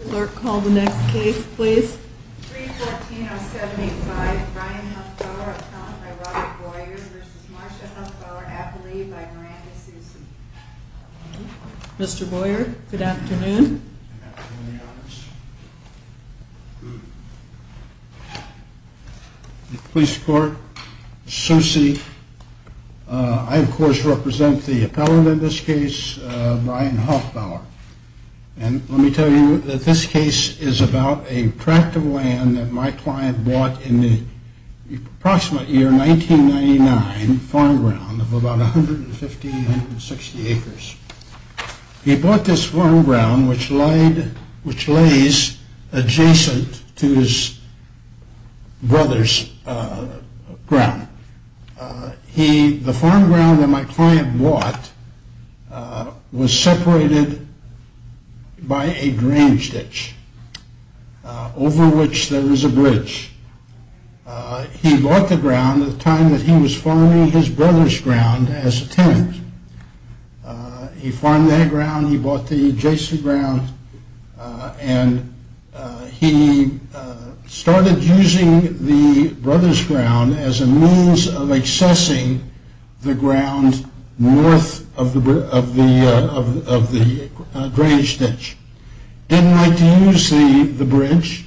Clerk, call the next case please. 314-075 Brian Hofbauer, appellant by Robert Boyer v. Marsha Hofbauer, appellee by Miranda Soucy Mr. Boyer, good afternoon. Good afternoon, Your Honors. Police Court, Soucy. I, of course, represent the appellant in this case, Brian Hofbauer. And let me tell you that this case is about a tract of land that my client bought in the approximate year 1999, farm ground of about 150-160 acres. He bought this farm ground which lays adjacent to his brother's ground. The farm ground that my client bought was separated by a drainage ditch, over which there is a bridge. He bought the ground at the time that he was farming his brother's ground as a tenant. He farmed that ground, he bought the adjacent ground, and he started using the brother's ground as a means of accessing the ground north of the drainage ditch. He didn't like to use the bridge.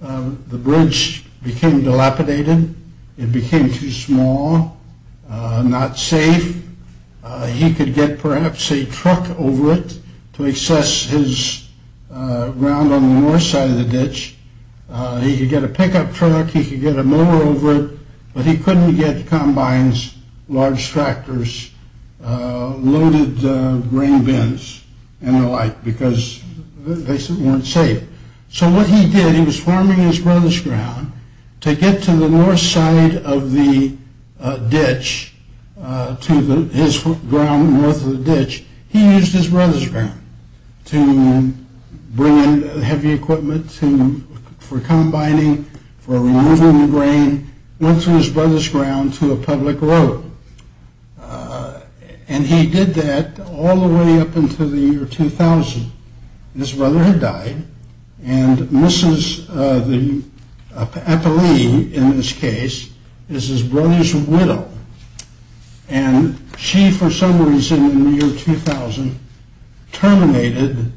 The bridge became dilapidated, it became too small, not safe. He could get perhaps a truck over it to access his ground on the north side of the ditch. He could get a pickup truck, he could get a mower over it, but he couldn't get combines, large tractors, loaded grain bins and the like because they weren't safe. So what he did, he was farming his brother's ground to get to the north side of the ditch, to his ground north of the ditch. He used his brother's ground to bring in heavy equipment for combining, for removing the grain, went through his brother's ground to a public road. And he did that all the way up until the year 2000. His brother had died, and Mrs. Eppley, in this case, is his brother's widow. And she, for some reason in the year 2000, terminated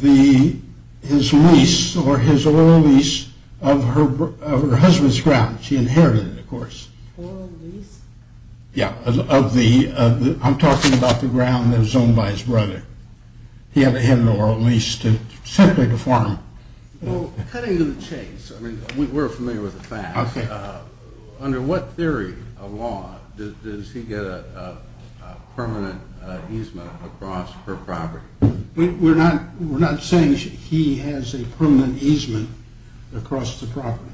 his lease, or his oil lease, of her husband's ground. She inherited it, of course. I'm talking about the ground that was owned by his brother. He had an oil lease simply to farm. Cutting to the chase, we're familiar with the facts. Under what theory of law does he get a permanent easement across her property? We're not saying he has a permanent easement across the property.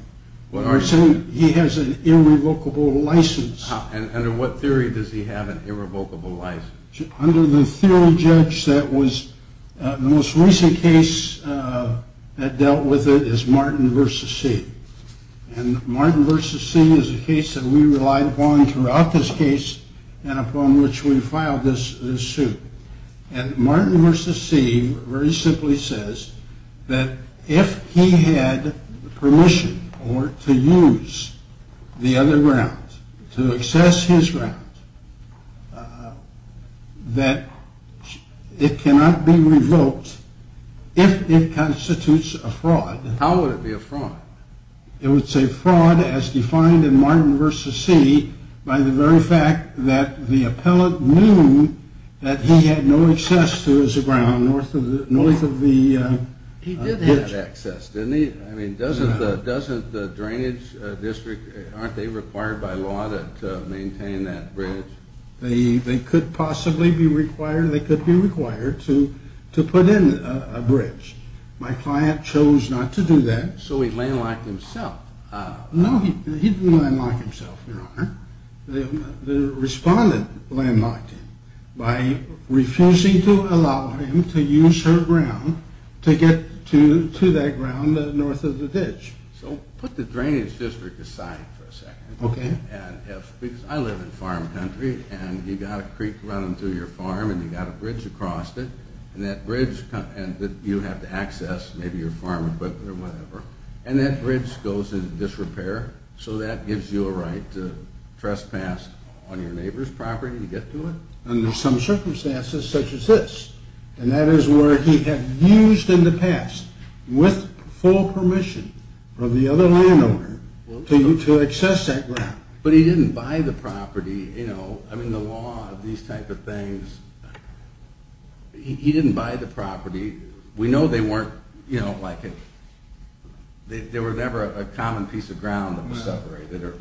What I'm saying, he has an irrevocable license. And under what theory does he have an irrevocable license? Under the theory, Judge, that was the most recent case that dealt with it is Martin v. See. And Martin v. See is a case that we relied upon throughout this case and upon which we filed this suit. And Martin v. See very simply says that if he had permission to use the other grounds, to access his grounds, that it cannot be revoked if it constitutes a fraud. How would it be a fraud? It would say fraud as defined in Martin v. See by the very fact that the appellate knew that he had no access to his ground north of the bridge. He did have access, didn't he? Doesn't the drainage district, aren't they required by law to maintain that bridge? They could possibly be required, they could be required to put in a bridge. My client chose not to do that. So he landlocked himself. No, he didn't landlock himself, your honor. The respondent landlocked him by refusing to allow him to use her ground to get to that ground north of the bridge. So put the drainage district aside for a second. Because I live in farm country and you've got a creek running through your farm and you've got a bridge across it. And that bridge you have to access, maybe your farm equipment or whatever, and that bridge goes into disrepair. So that gives you a right to trespass on your neighbor's property to get to it? Under some circumstances such as this. And that is where he had used in the past with full permission from the other landowner to access that ground. But he didn't buy the property, you know, I mean the law, these type of things, he didn't buy the property. We know they weren't, you know, there were never a common piece of ground in the suburb.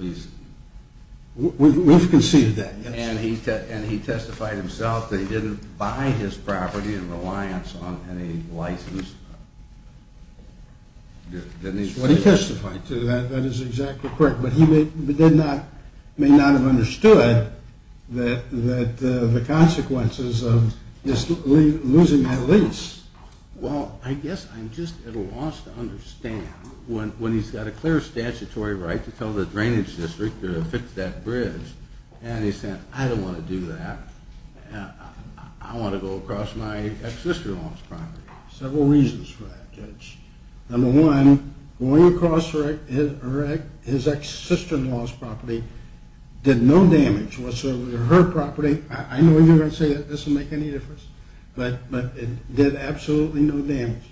We've conceded that. And he testified himself that he didn't buy his property in reliance on any license. That is what he testified to, that is exactly correct. But he may not have understood the consequences of losing that lease. Well, I guess I'm just at a loss to understand when he's got a clear statutory right to tell the drainage district to fix that bridge and he said I don't want to do that, I want to go across my ex-sister-in-law's property. Several reasons for that, Judge. Number one, going across his ex-sister-in-law's property did no damage whatsoever to her property. I know you're going to say that doesn't make any difference, but it did absolutely no damage.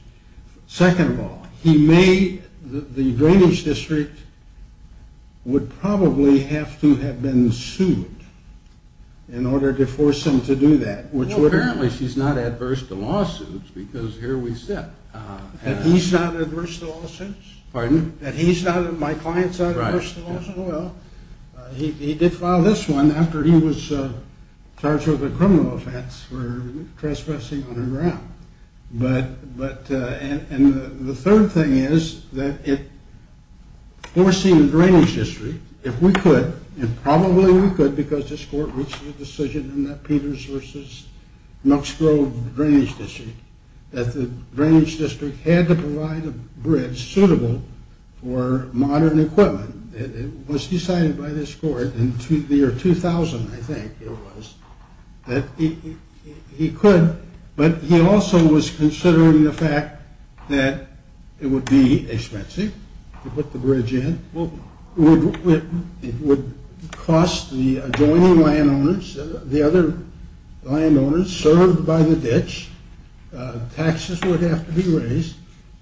Second of all, he may, the drainage district would probably have to have been sued in order to force him to do that. Well, apparently she's not adverse to lawsuits because here we sit. That he's not adverse to lawsuits? Pardon? That he's not, my client's not adverse to lawsuits? Right. Well, he did file this one after he was charged with a criminal offense for trespassing on her ground. But, and the third thing is that it, forcing the drainage district, if we could, and probably we could because this court reached a decision in that Peters versus Nuxgrove drainage district, that the drainage district had to provide a bridge suitable for modern equipment. It was decided by this court in the year 2000, I think it was, that he could. But he also was considering the fact that it would be expensive to put the bridge in. It would cost the adjoining landowners, the other landowners, served by the ditch. Taxes would have to be raised.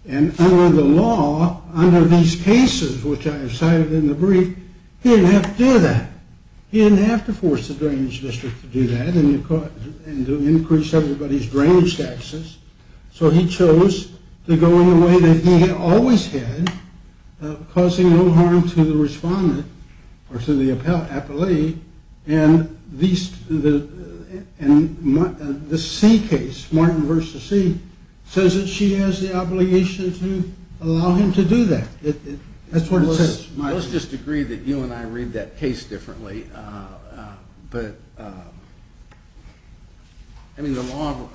And under the law, under these cases, which I have cited in the brief, he didn't have to do that. He didn't have to force the drainage district to do that and to increase everybody's drainage taxes. So he chose to go in the way that he had always had, causing no harm to the respondent or to the appellee. And the C case, Martin versus C, says that she has the obligation to allow him to do that. That's what it says. Let's just agree that you and I read that case differently. But, I mean, the law,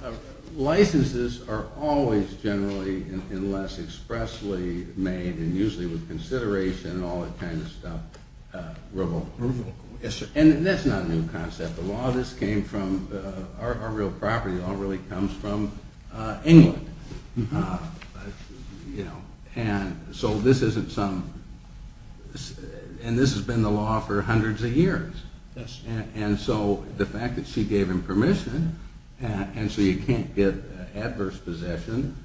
licenses are always generally and less expressly made and usually with consideration and all that kind of stuff. And that's not a new concept. The law, this came from, our real property all really comes from England. And so this isn't some, and this has been the law for hundreds of years. And so the fact that she gave him permission, and so you can't get adverse possession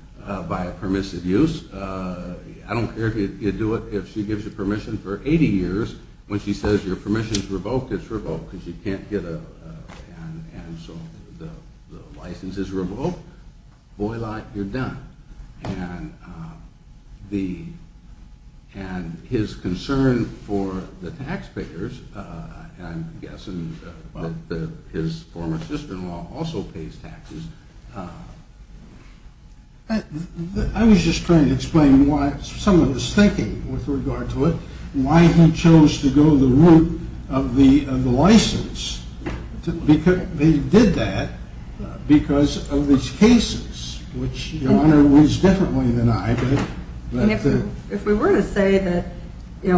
by a permissive use. I don't care if you do it, if she gives you permission for 80 years, when she says your permission is revoked, it's revoked. Because you can't get a, and so the license is revoked, boy lot, you're done. And his concern for the taxpayers, and I'm guessing that his former sister-in-law also pays taxes. I was just trying to explain some of his thinking with regard to it. Why he chose to go the route of the license. They did that because of these cases, which your Honor reads differently than I. And if we were to say that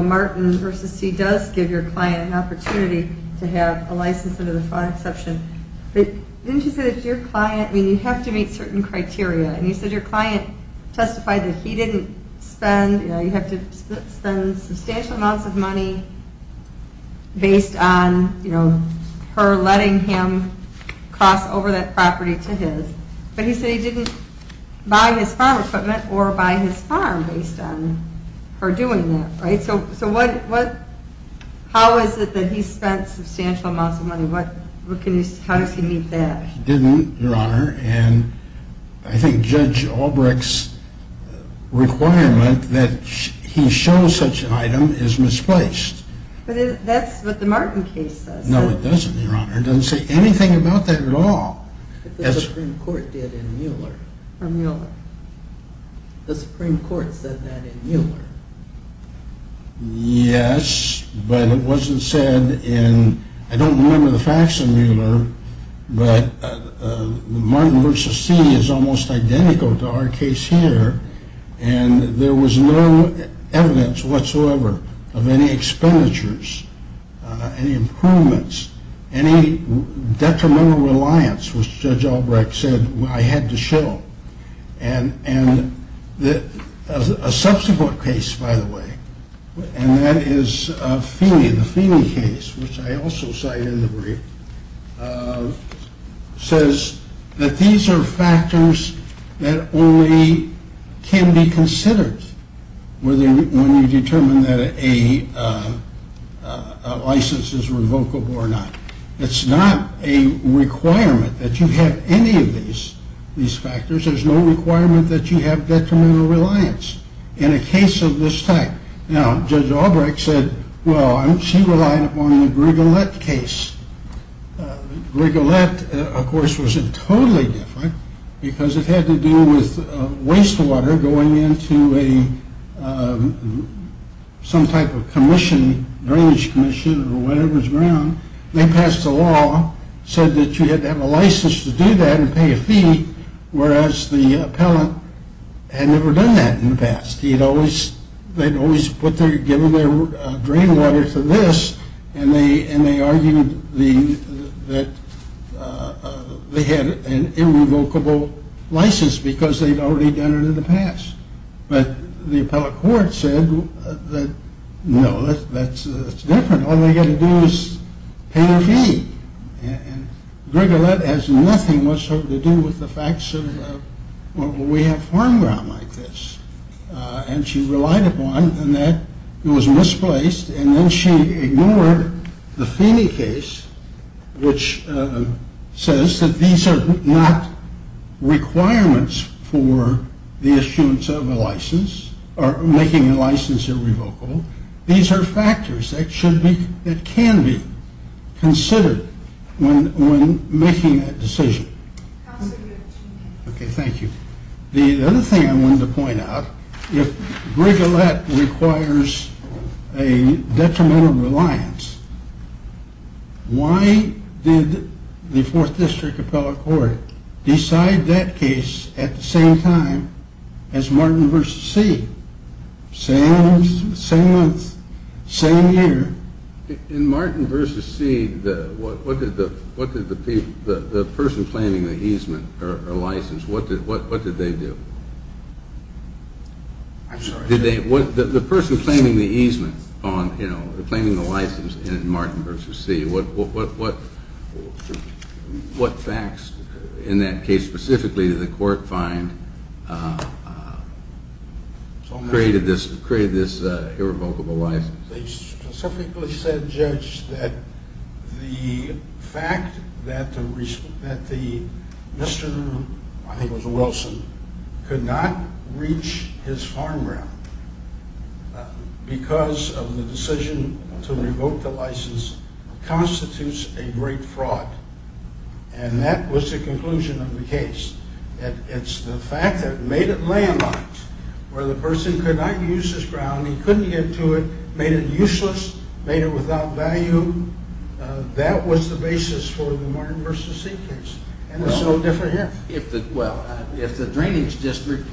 Martin v. C. does give your client an opportunity to have a license under the fine exception, but didn't you say that your client, I mean you have to meet certain criteria. And you said your client testified that he didn't spend, you have to spend substantial amounts of money based on her letting him cross over that property to his. But he said he didn't buy his farm equipment or buy his farm based on her doing that. Right, so how is it that he spent substantial amounts of money? How does he meet that? He didn't, your Honor, and I think Judge Albrecht's requirement that he show such an item is misplaced. But that's what the Martin case says. No it doesn't, your Honor, it doesn't say anything about that at all. The Supreme Court did in Mueller. Or Mueller. The Supreme Court said that in Mueller. Yes, but it wasn't said in, I don't remember the facts in Mueller, but Martin v. C. is almost identical to our case here. And there was no evidence whatsoever of any expenditures, any improvements, any detrimental reliance, which Judge Albrecht said I had to show. And a subsequent case, by the way, and that is Feeney. The Feeney case, which I also cite in the brief, says that these are factors that only can be considered when you determine that a license is revocable or not. It's not a requirement that you have any of these factors. There's no requirement that you have detrimental reliance in a case of this type. Now Judge Albrecht said, well, she relied upon the Grigolet case. Grigolet, of course, was totally different because it had to do with wastewater going into some type of commission, drainage commission or whatever's around. They passed a law, said that you had to have a license to do that and pay a fee, whereas the appellant had never done that in the past. They'd always given their drain water to this, and they argued that they had an irrevocable license because they'd already done it in the past. But the appellate court said, no, that's different. All they got to do is pay a fee. And Grigolet has nothing whatsoever to do with the facts of why we have farm ground like this. And she relied upon, and that was misplaced. And then she ignored the Feeney case, which says that these are not requirements for the issuance of a license or making a license irrevocable. These are factors that can be considered when making that decision. Okay, thank you. The other thing I wanted to point out, if Grigolet requires a detrimental reliance, why did the 4th District Appellate Court decide that case at the same time as Martin v. Seed? Same month, same year. In Martin v. Seed, what did the person planning the easement, or license, what did they do? I'm sorry. The person planning the easement, planning the license in Martin v. Seed, what facts in that case specifically did the court find created this irrevocable license? They specifically said, Judge, that the fact that Mr. Wilson could not reach his farm ground because of the decision to revoke the license constitutes a great fraud. And that was the conclusion of the case. It's the fact that it made it landline, where the person could not use his ground, he couldn't get to it, made it useless, made it without value. That was the basis for the Martin v. Seed case. And it's no different here. Well, if the drainage district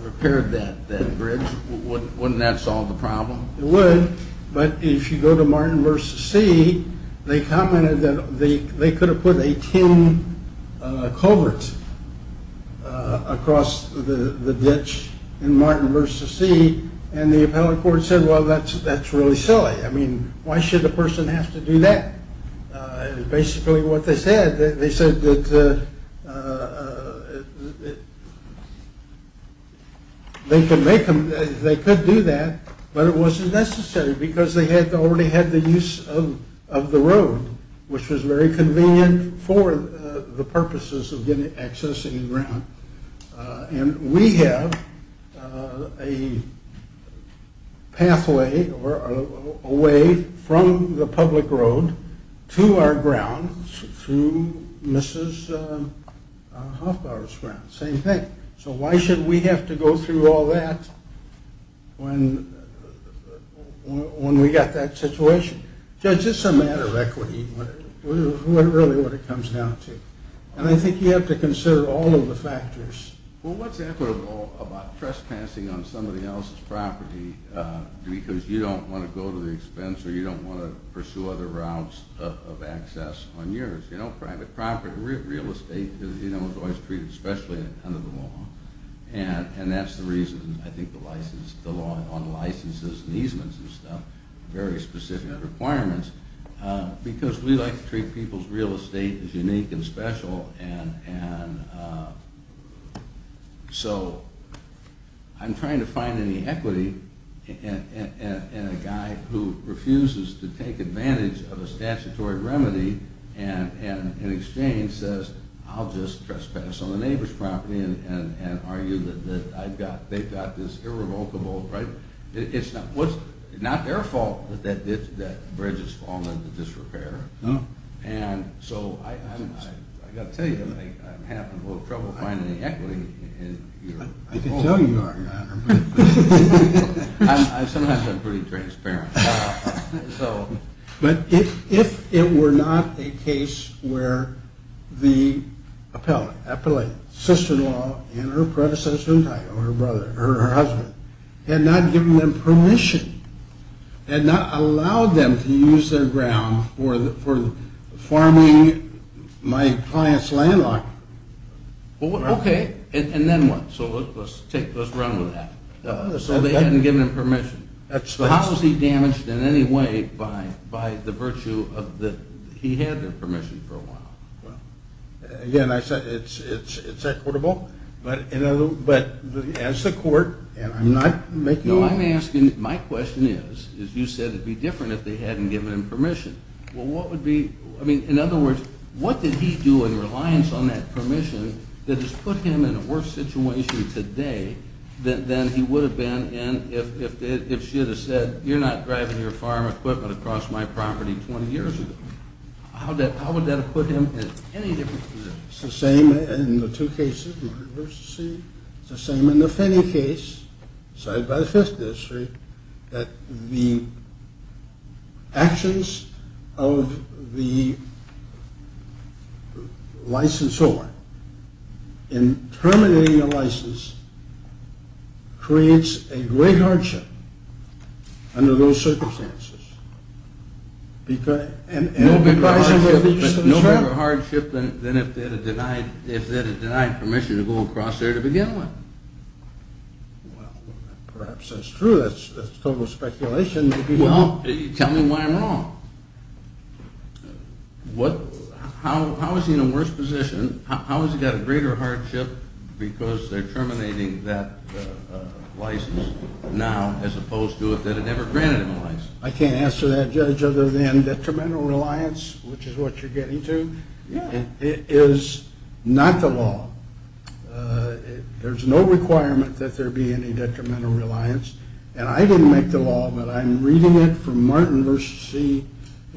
repaired that bridge, wouldn't that solve the problem? It would, but if you go to Martin v. Seed, they commented that they could have put a tin culvert across the ditch in Martin v. Seed, and the appellate court said, well, that's really silly. I mean, why should a person have to do that? Basically what they said, they said that they could do that, but it wasn't necessary because they had already had the use of the road, which was very convenient for the purposes of getting access to the ground. And we have a pathway away from the public road to our ground through Mrs. Hofbauer's ground. Same thing. So why should we have to go through all that when we got that situation? Judge, it's a matter of equity, really what it comes down to. And I think you have to consider all of the factors. Well, what's equitable about trespassing on somebody else's property because you don't want to go to the expense or you don't want to pursue other routes of access on yours? Private property, real estate is always treated especially under the law, and that's the reason I think the law on licenses and easements and stuff, very specific requirements, because we like to treat people's real estate as unique and special, and so I'm trying to find any equity in a guy who refuses to take advantage of a statutory remedy and in exchange says, I'll just trespass on the neighbor's property and argue that they've got this irrevocable, right? It's not their fault that that bridge has fallen into disrepair. No. And so I've got to tell you, I'm having a little trouble finding equity. I can tell you are, Your Honor. I've sometimes been pretty transparent. But if it were not a case where the appellate, sister-in-law, and her predecessor, her brother, her husband, had not given them permission, had not allowed them to use their ground for farming my client's landlocked property. Okay, and then what? So let's run with that. So they hadn't given them permission. That's right. So how was he damaged in any way by the virtue of that he had their permission for a while? Again, it's equitable, but as the court, and I'm not making all... No, I'm asking, my question is, is you said it would be different if they hadn't given him permission. Well, what would be, I mean, in other words, what did he do in reliance on that permission that has put him in a worse situation today than he would have been if she had said, you're not driving your farm equipment across my property 20 years ago. How would that have put him in any different position? It's the same in the two cases, the controversy. It's the same in the Finney case, cited by the Fifth District, that the actions of the licensor in terminating a license creates a great hardship under those circumstances. No bigger hardship than if they had denied permission to go across there to begin with. Well, perhaps that's true, that's total speculation. Well, tell me why I'm wrong. How is he in a worse position? How has he got a greater hardship because they're terminating that license now as opposed to if they'd have never granted him a license? I can't answer that, Judge, other than detrimental reliance, which is what you're getting to, is not the law. There's no requirement that there be any detrimental reliance. And I didn't make the law, but I'm reading it from Martin v. C.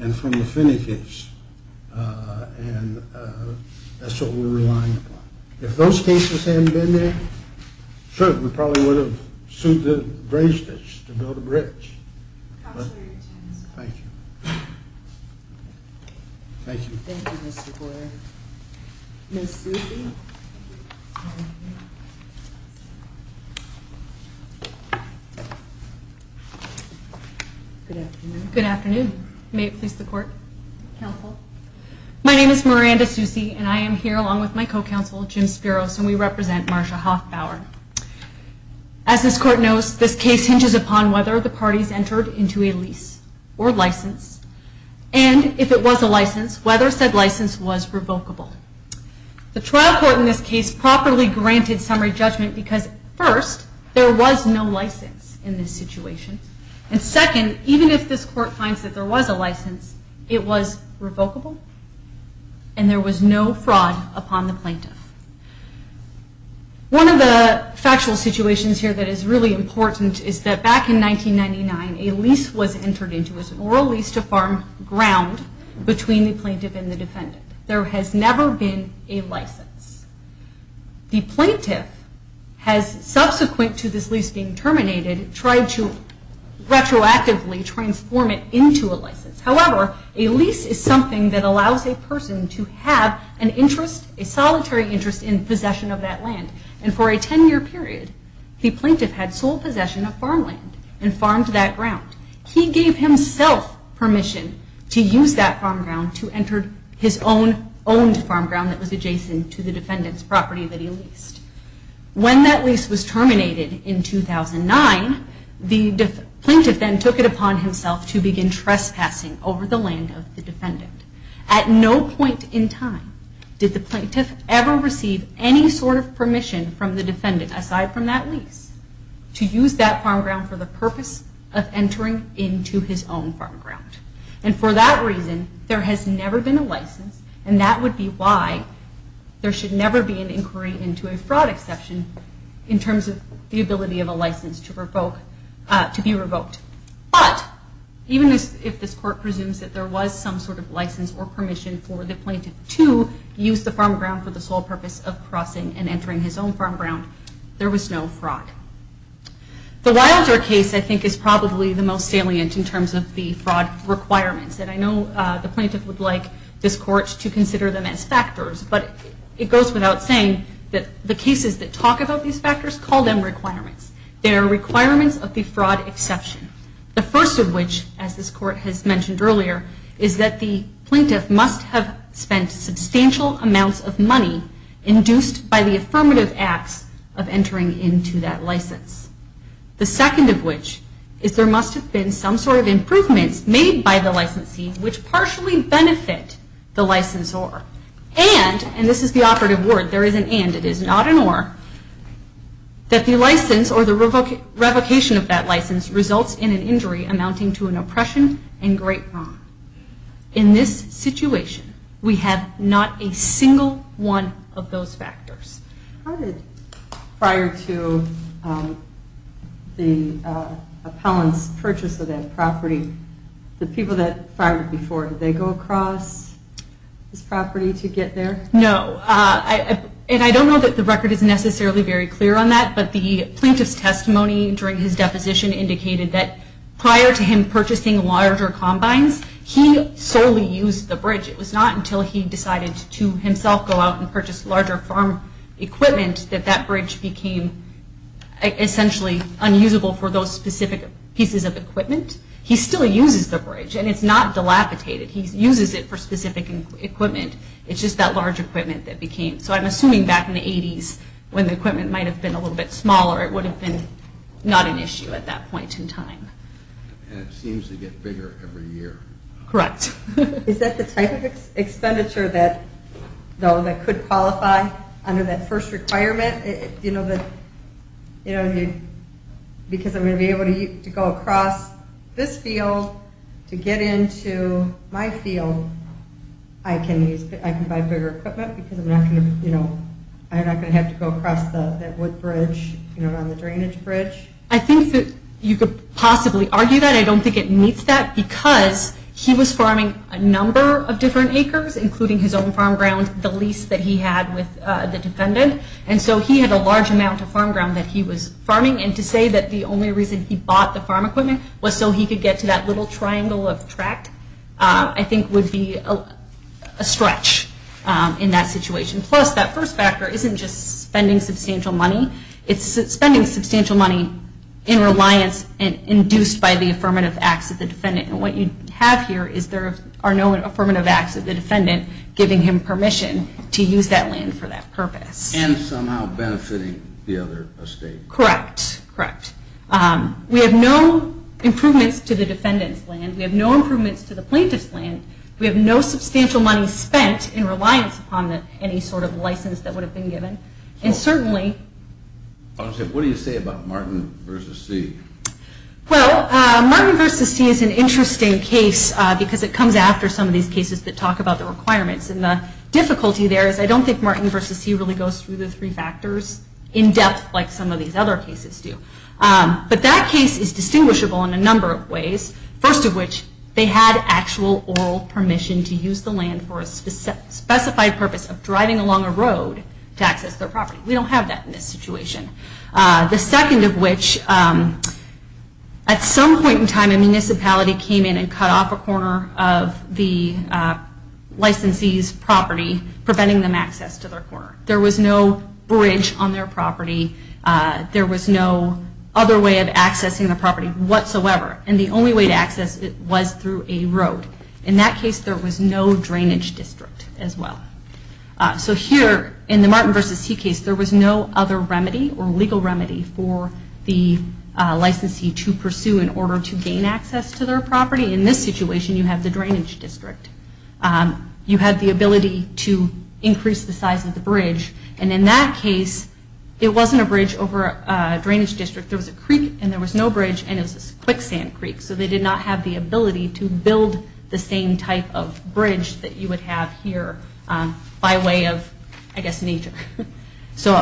and from the Finney case. And that's what we're relying upon. If those cases hadn't been there, sure, we probably would have sued the Bravestitch to build a bridge. Thank you. Thank you. Thank you, Mr. Boyer. Ms. Susi? Good afternoon. Good afternoon. May it please the Court? Counsel. My name is Miranda Susi, and I am here along with my co-counsel, Jim Spiros, and we represent Marsha Hoffbauer. As this Court knows, this case hinges upon whether the parties entered into a lease or license, and if it was a license, whether said license was revocable. The trial court in this case properly granted summary judgment because, first, there was no license in this situation, and second, even if this Court finds that there was a license, it was revocable and there was no fraud upon the plaintiff. One of the factual situations here that is really important is that back in 1999, a lease was entered into as an oral lease to farm ground between the plaintiff and the defendant. There has never been a license. The plaintiff has, subsequent to this lease being terminated, tried to retroactively transform it into a license. However, a lease is something that allows a person to have an interest, a solitary interest, in possession of that land, and for a 10-year period, the plaintiff had sole possession of farmland and farmed that ground. He gave himself permission to use that farm ground to enter his own owned farm ground that was adjacent to the defendant's property that he leased. When that lease was terminated in 2009, the plaintiff then took it upon himself to begin trespassing over the land of the defendant. At no point in time did the plaintiff ever receive any sort of permission from the defendant, aside from that lease, to use that farm ground for the purpose of entering into his own farm ground. And for that reason, there has never been a license, and that would be why there should never be an inquiry into a fraud exception in terms of the ability of a license to be revoked. But, even if this court presumes that there was some sort of license or permission for the plaintiff to use the farm ground for the sole purpose of crossing and entering his own farm ground, there was no fraud. The Wilder case, I think, is probably the most salient in terms of the fraud requirements, and I know the plaintiff would like this court to consider them as factors, but it goes without saying that the cases that talk about these factors call them requirements. They are requirements of the fraud exception. The first of which, as this court has mentioned earlier, is that the plaintiff must have spent substantial amounts of money induced by the affirmative acts of entering into that license. The second of which is there must have been some sort of improvements made by the licensee, which partially benefit the licensor, and, and this is the operative word, there is an and, it is not an or, that the license or the revocation of that license results in an injury amounting to an oppression and great wrong. In this situation, we have not a single one of those factors. How did, prior to the appellant's purchase of that property, the people that fired it before, did they go across this property to get there? No. And I don't know that the record is necessarily very clear on that, but the plaintiff's testimony during his deposition indicated that prior to him purchasing larger combines, he solely used the bridge. It was not until he decided to himself go out and purchase larger farm equipment that that bridge became essentially unusable for those specific pieces of equipment. He still uses the bridge, and it's not dilapidated. He uses it for specific equipment. It's just that large equipment that became, so I'm assuming back in the 80s, when the equipment might have been a little bit smaller, it would have been not an issue at that point in time. And it seems to get bigger every year. Correct. Is that the type of expenditure that, though, that could qualify under that first requirement? Because I'm going to be able to go across this field to get into my field, I can buy bigger equipment because I'm not going to have to go across that wood bridge, around the drainage bridge. I think that you could possibly argue that. I don't think it meets that because he was farming a number of different acres, including his own farm ground, the lease that he had with the defendant. And so he had a large amount of farm ground that he was farming. And to say that the only reason he bought the farm equipment was so he could get to that little triangle of tract, I think would be a stretch in that situation. Plus, that first factor isn't just spending substantial money. It's spending substantial money in reliance and induced by the affirmative acts of the defendant. And what you have here is there are no affirmative acts of the defendant giving him permission to use that land for that purpose. And somehow benefiting the other estate. Correct, correct. We have no improvements to the defendant's land. We have no improvements to the plaintiff's land. We have no substantial money spent in reliance upon any sort of license that would have been given. And certainly... What do you say about Martin v. See? Well, Martin v. See is an interesting case because it comes after some of these cases that talk about the requirements. And the difficulty there is I don't think Martin v. See really goes through the three factors in depth like some of these other cases do. But that case is distinguishable in a number of ways. First of which, they had actual oral permission to use the land for a specified purpose of driving along a road to access their property. We don't have that in this situation. The second of which, at some point in time a municipality came in and cut off a corner of the licensee's property preventing them access to their corner. There was no bridge on their property. There was no other way of accessing the property whatsoever. And the only way to access it was through a road. In that case there was no drainage district as well. So here in the Martin v. See case there was no other remedy or legal remedy for the licensee to pursue in order to gain access to their property. In this situation you have the drainage district. You had the ability to increase the size of the bridge. And in that case it wasn't a bridge over a drainage district. There was a creek and there was no bridge and it was a quicksand creek. So they did not have the ability to build the same type of bridge that you would have here by way of, I guess, nature. So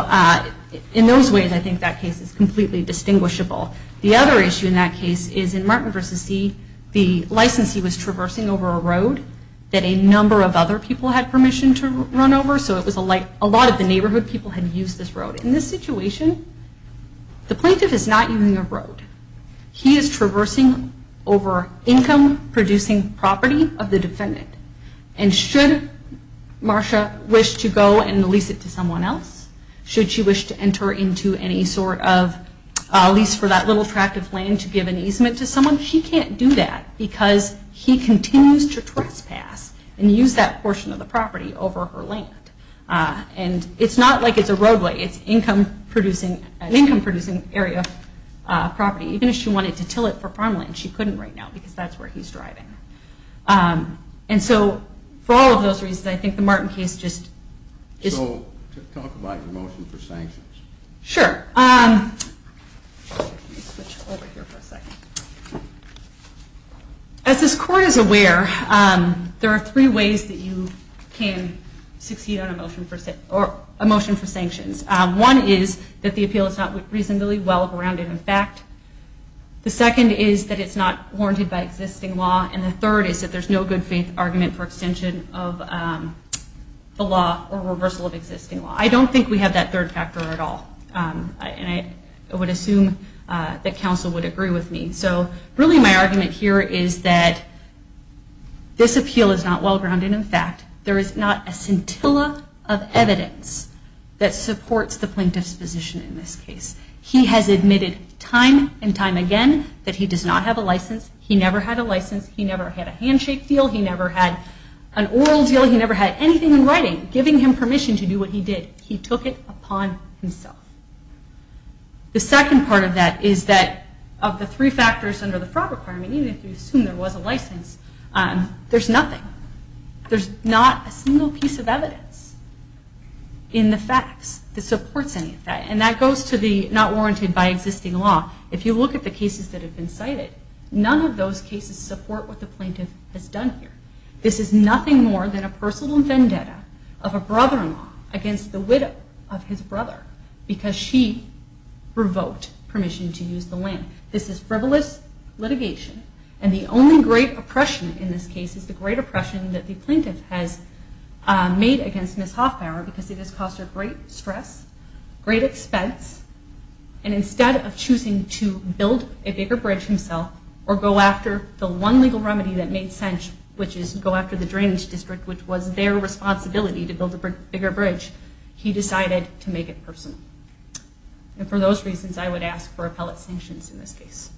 in those ways I think that case is completely distinguishable. The other issue in that case is in Martin v. See, the licensee was traversing over a road that a number of other people had permission to run over. So it was like a lot of the neighborhood people had used this road. In this situation the plaintiff is not using a road. He is traversing over income-producing property of the defendant. And should Marsha wish to go and lease it to someone else, should she wish to enter into any sort of lease for that little tract of land to give an easement to someone, she can't do that because he continues to trespass and use that portion of the property over her land. And it's not like it's a roadway. It's an income-producing area of property. Even if she wanted to till it for farmland, she couldn't right now because that's where he's driving. And so for all of those reasons, I think the Martin case just is... So talk about your motion for sanctions. Sure. Let me switch over here for a second. As this court is aware, there are three ways that you can succeed on a motion for sanctions. One is that the appeal is not reasonably well-grounded in fact. The second is that it's not warranted by existing law. And the third is that there's no good-faith argument for extension of the law or reversal of existing law. I don't think we have that third factor at all. And I would assume that counsel would agree with me. So really my argument here is that this appeal is not well-grounded in fact. There is not a scintilla of evidence that supports the plaintiff's position in this case. He has admitted time and time again that he does not have a license. He never had a license. He never had a handshake deal. He never had an oral deal. He never had anything in writing giving him permission to do what he did. He took it upon himself. The second part of that is that of the three factors under the fraud requirement, even if you assume there was a license, there's nothing. There's not a single piece of evidence in the facts that supports any of that. And that goes to the not warranted by existing law. If you look at the cases that have been cited, none of those cases support what the plaintiff has done here. This is nothing more than a personal vendetta of a brother-in-law against the widow of his brother because she revoked permission to use the land. This is frivolous litigation. And the only great oppression in this case is the great oppression that the plaintiff has made against Ms. Hoffbauer because it has caused her great stress, great expense, and instead of choosing to build a bigger bridge himself or go after the one legal remedy that made sense, which is go after the drainage district, which was their responsibility to build a bigger bridge, he decided to make it personal. And for those reasons, I would ask for appellate sanctions in this case.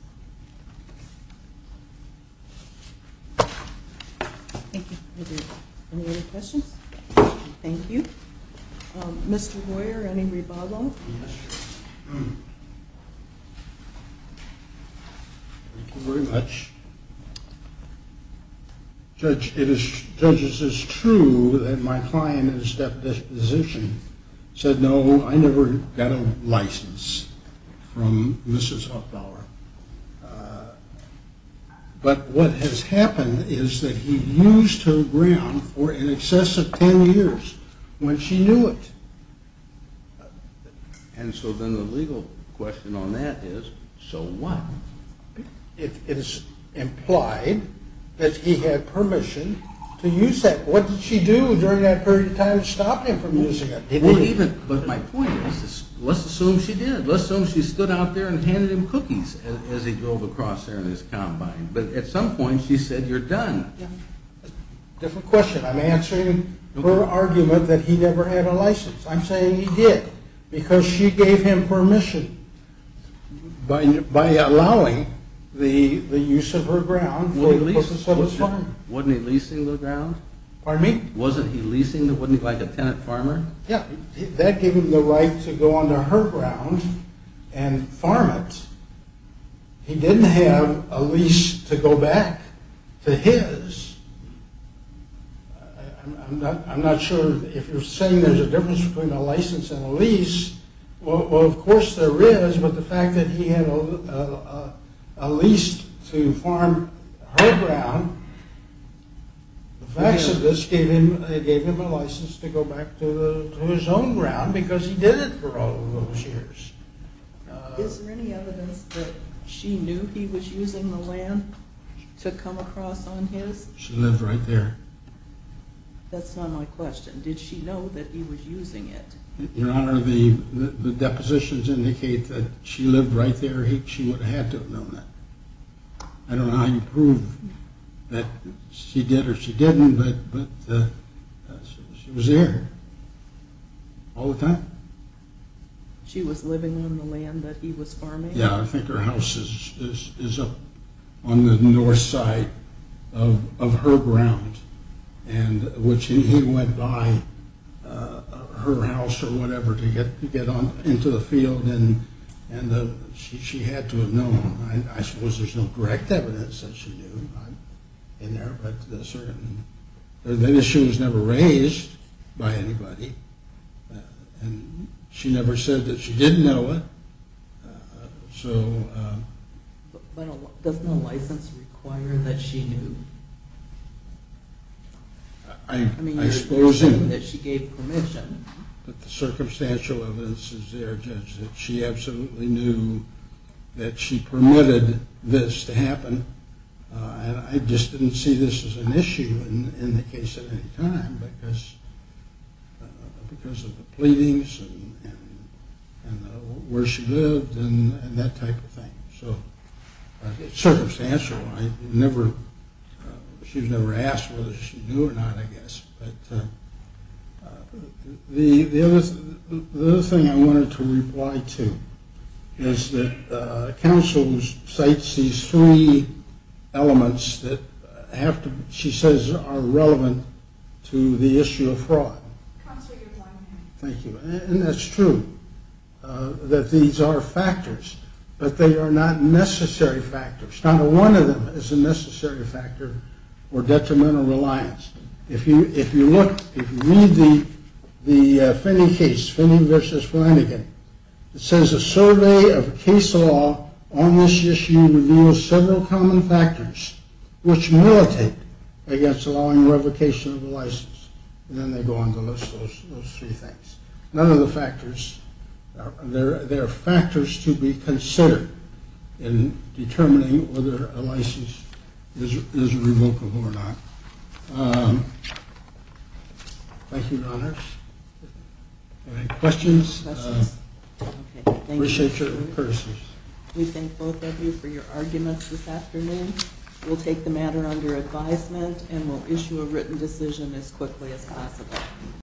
Thank you. Any other questions? Thank you. Mr. Royer, any rebuttal? Thank you very much. Judge, it is true that my client in his deposition said, no, I never got a license from Mrs. Hoffbauer. But what has happened is that he used her ground for in excess of ten years when she knew it. And so then the legal question on that is, so what? It is implied that he had permission to use that. What did she do during that period of time to stop him from using it? But my point is, let's assume she did. Let's assume she stood out there and handed him cookies as he drove across there in his combine. But at some point she said, you're done. Different question. I'm answering her argument that he never had a license. I'm saying he did because she gave him permission by allowing the use of her ground for the purpose of his farm. Wasn't he leasing the ground? Pardon me? Wasn't he leasing it? Wasn't he like a tenant farmer? Yeah, that gave him the right to go onto her ground and farm it. He didn't have a lease to go back to his. I'm not sure if you're saying there's a difference between a license and a lease. Well, of course there is. But the fact that he had a lease to farm her ground, the facts of this gave him a license to go back to his own ground because he did it for all of those years. Is there any evidence that she knew he was using the land to come across on his? She lived right there. That's not my question. Did she know that he was using it? Your Honor, the depositions indicate that she lived right there. She would have had to have known that. I don't know how you prove that she did or she didn't, but she was there all the time. She was living on the land that he was farming? Yeah, I think her house is up on the north side of her ground, which he went by her house or whatever to get into the field, and she had to have known. I suppose there's no direct evidence that she knew in there. The issue was never raised by anybody, and she never said that she didn't know it. Doesn't a license require that she knew? I mean, you're saying that she gave permission. But the circumstantial evidence is there, Judge, that she absolutely knew that she permitted this to happen. I just didn't see this as an issue in the case at any time because of the pleadings and where she lived and that type of thing. Circumstantial. She was never asked whether she knew or not, I guess. The other thing I wanted to reply to is that counsel cites these three elements that she says are relevant to the issue of fraud. Counsel, you're blind. Thank you. And that's true that these are factors, but they are not necessary factors. Not one of them is a necessary factor or detrimental reliance. If you look, if you read the Finney case, Finney v. Flanagan, it says a survey of case law on this issue reveals several common factors which militate against allowing revocation of a license. And then they go on to list those three things. None of the factors, there are factors to be considered in determining whether a license is revocable or not. Thank you, Your Honors. Any questions? Appreciate your courtesy. We thank both of you for your arguments this afternoon. We'll take the matter under advisement and we'll issue a written decision as quickly as possible.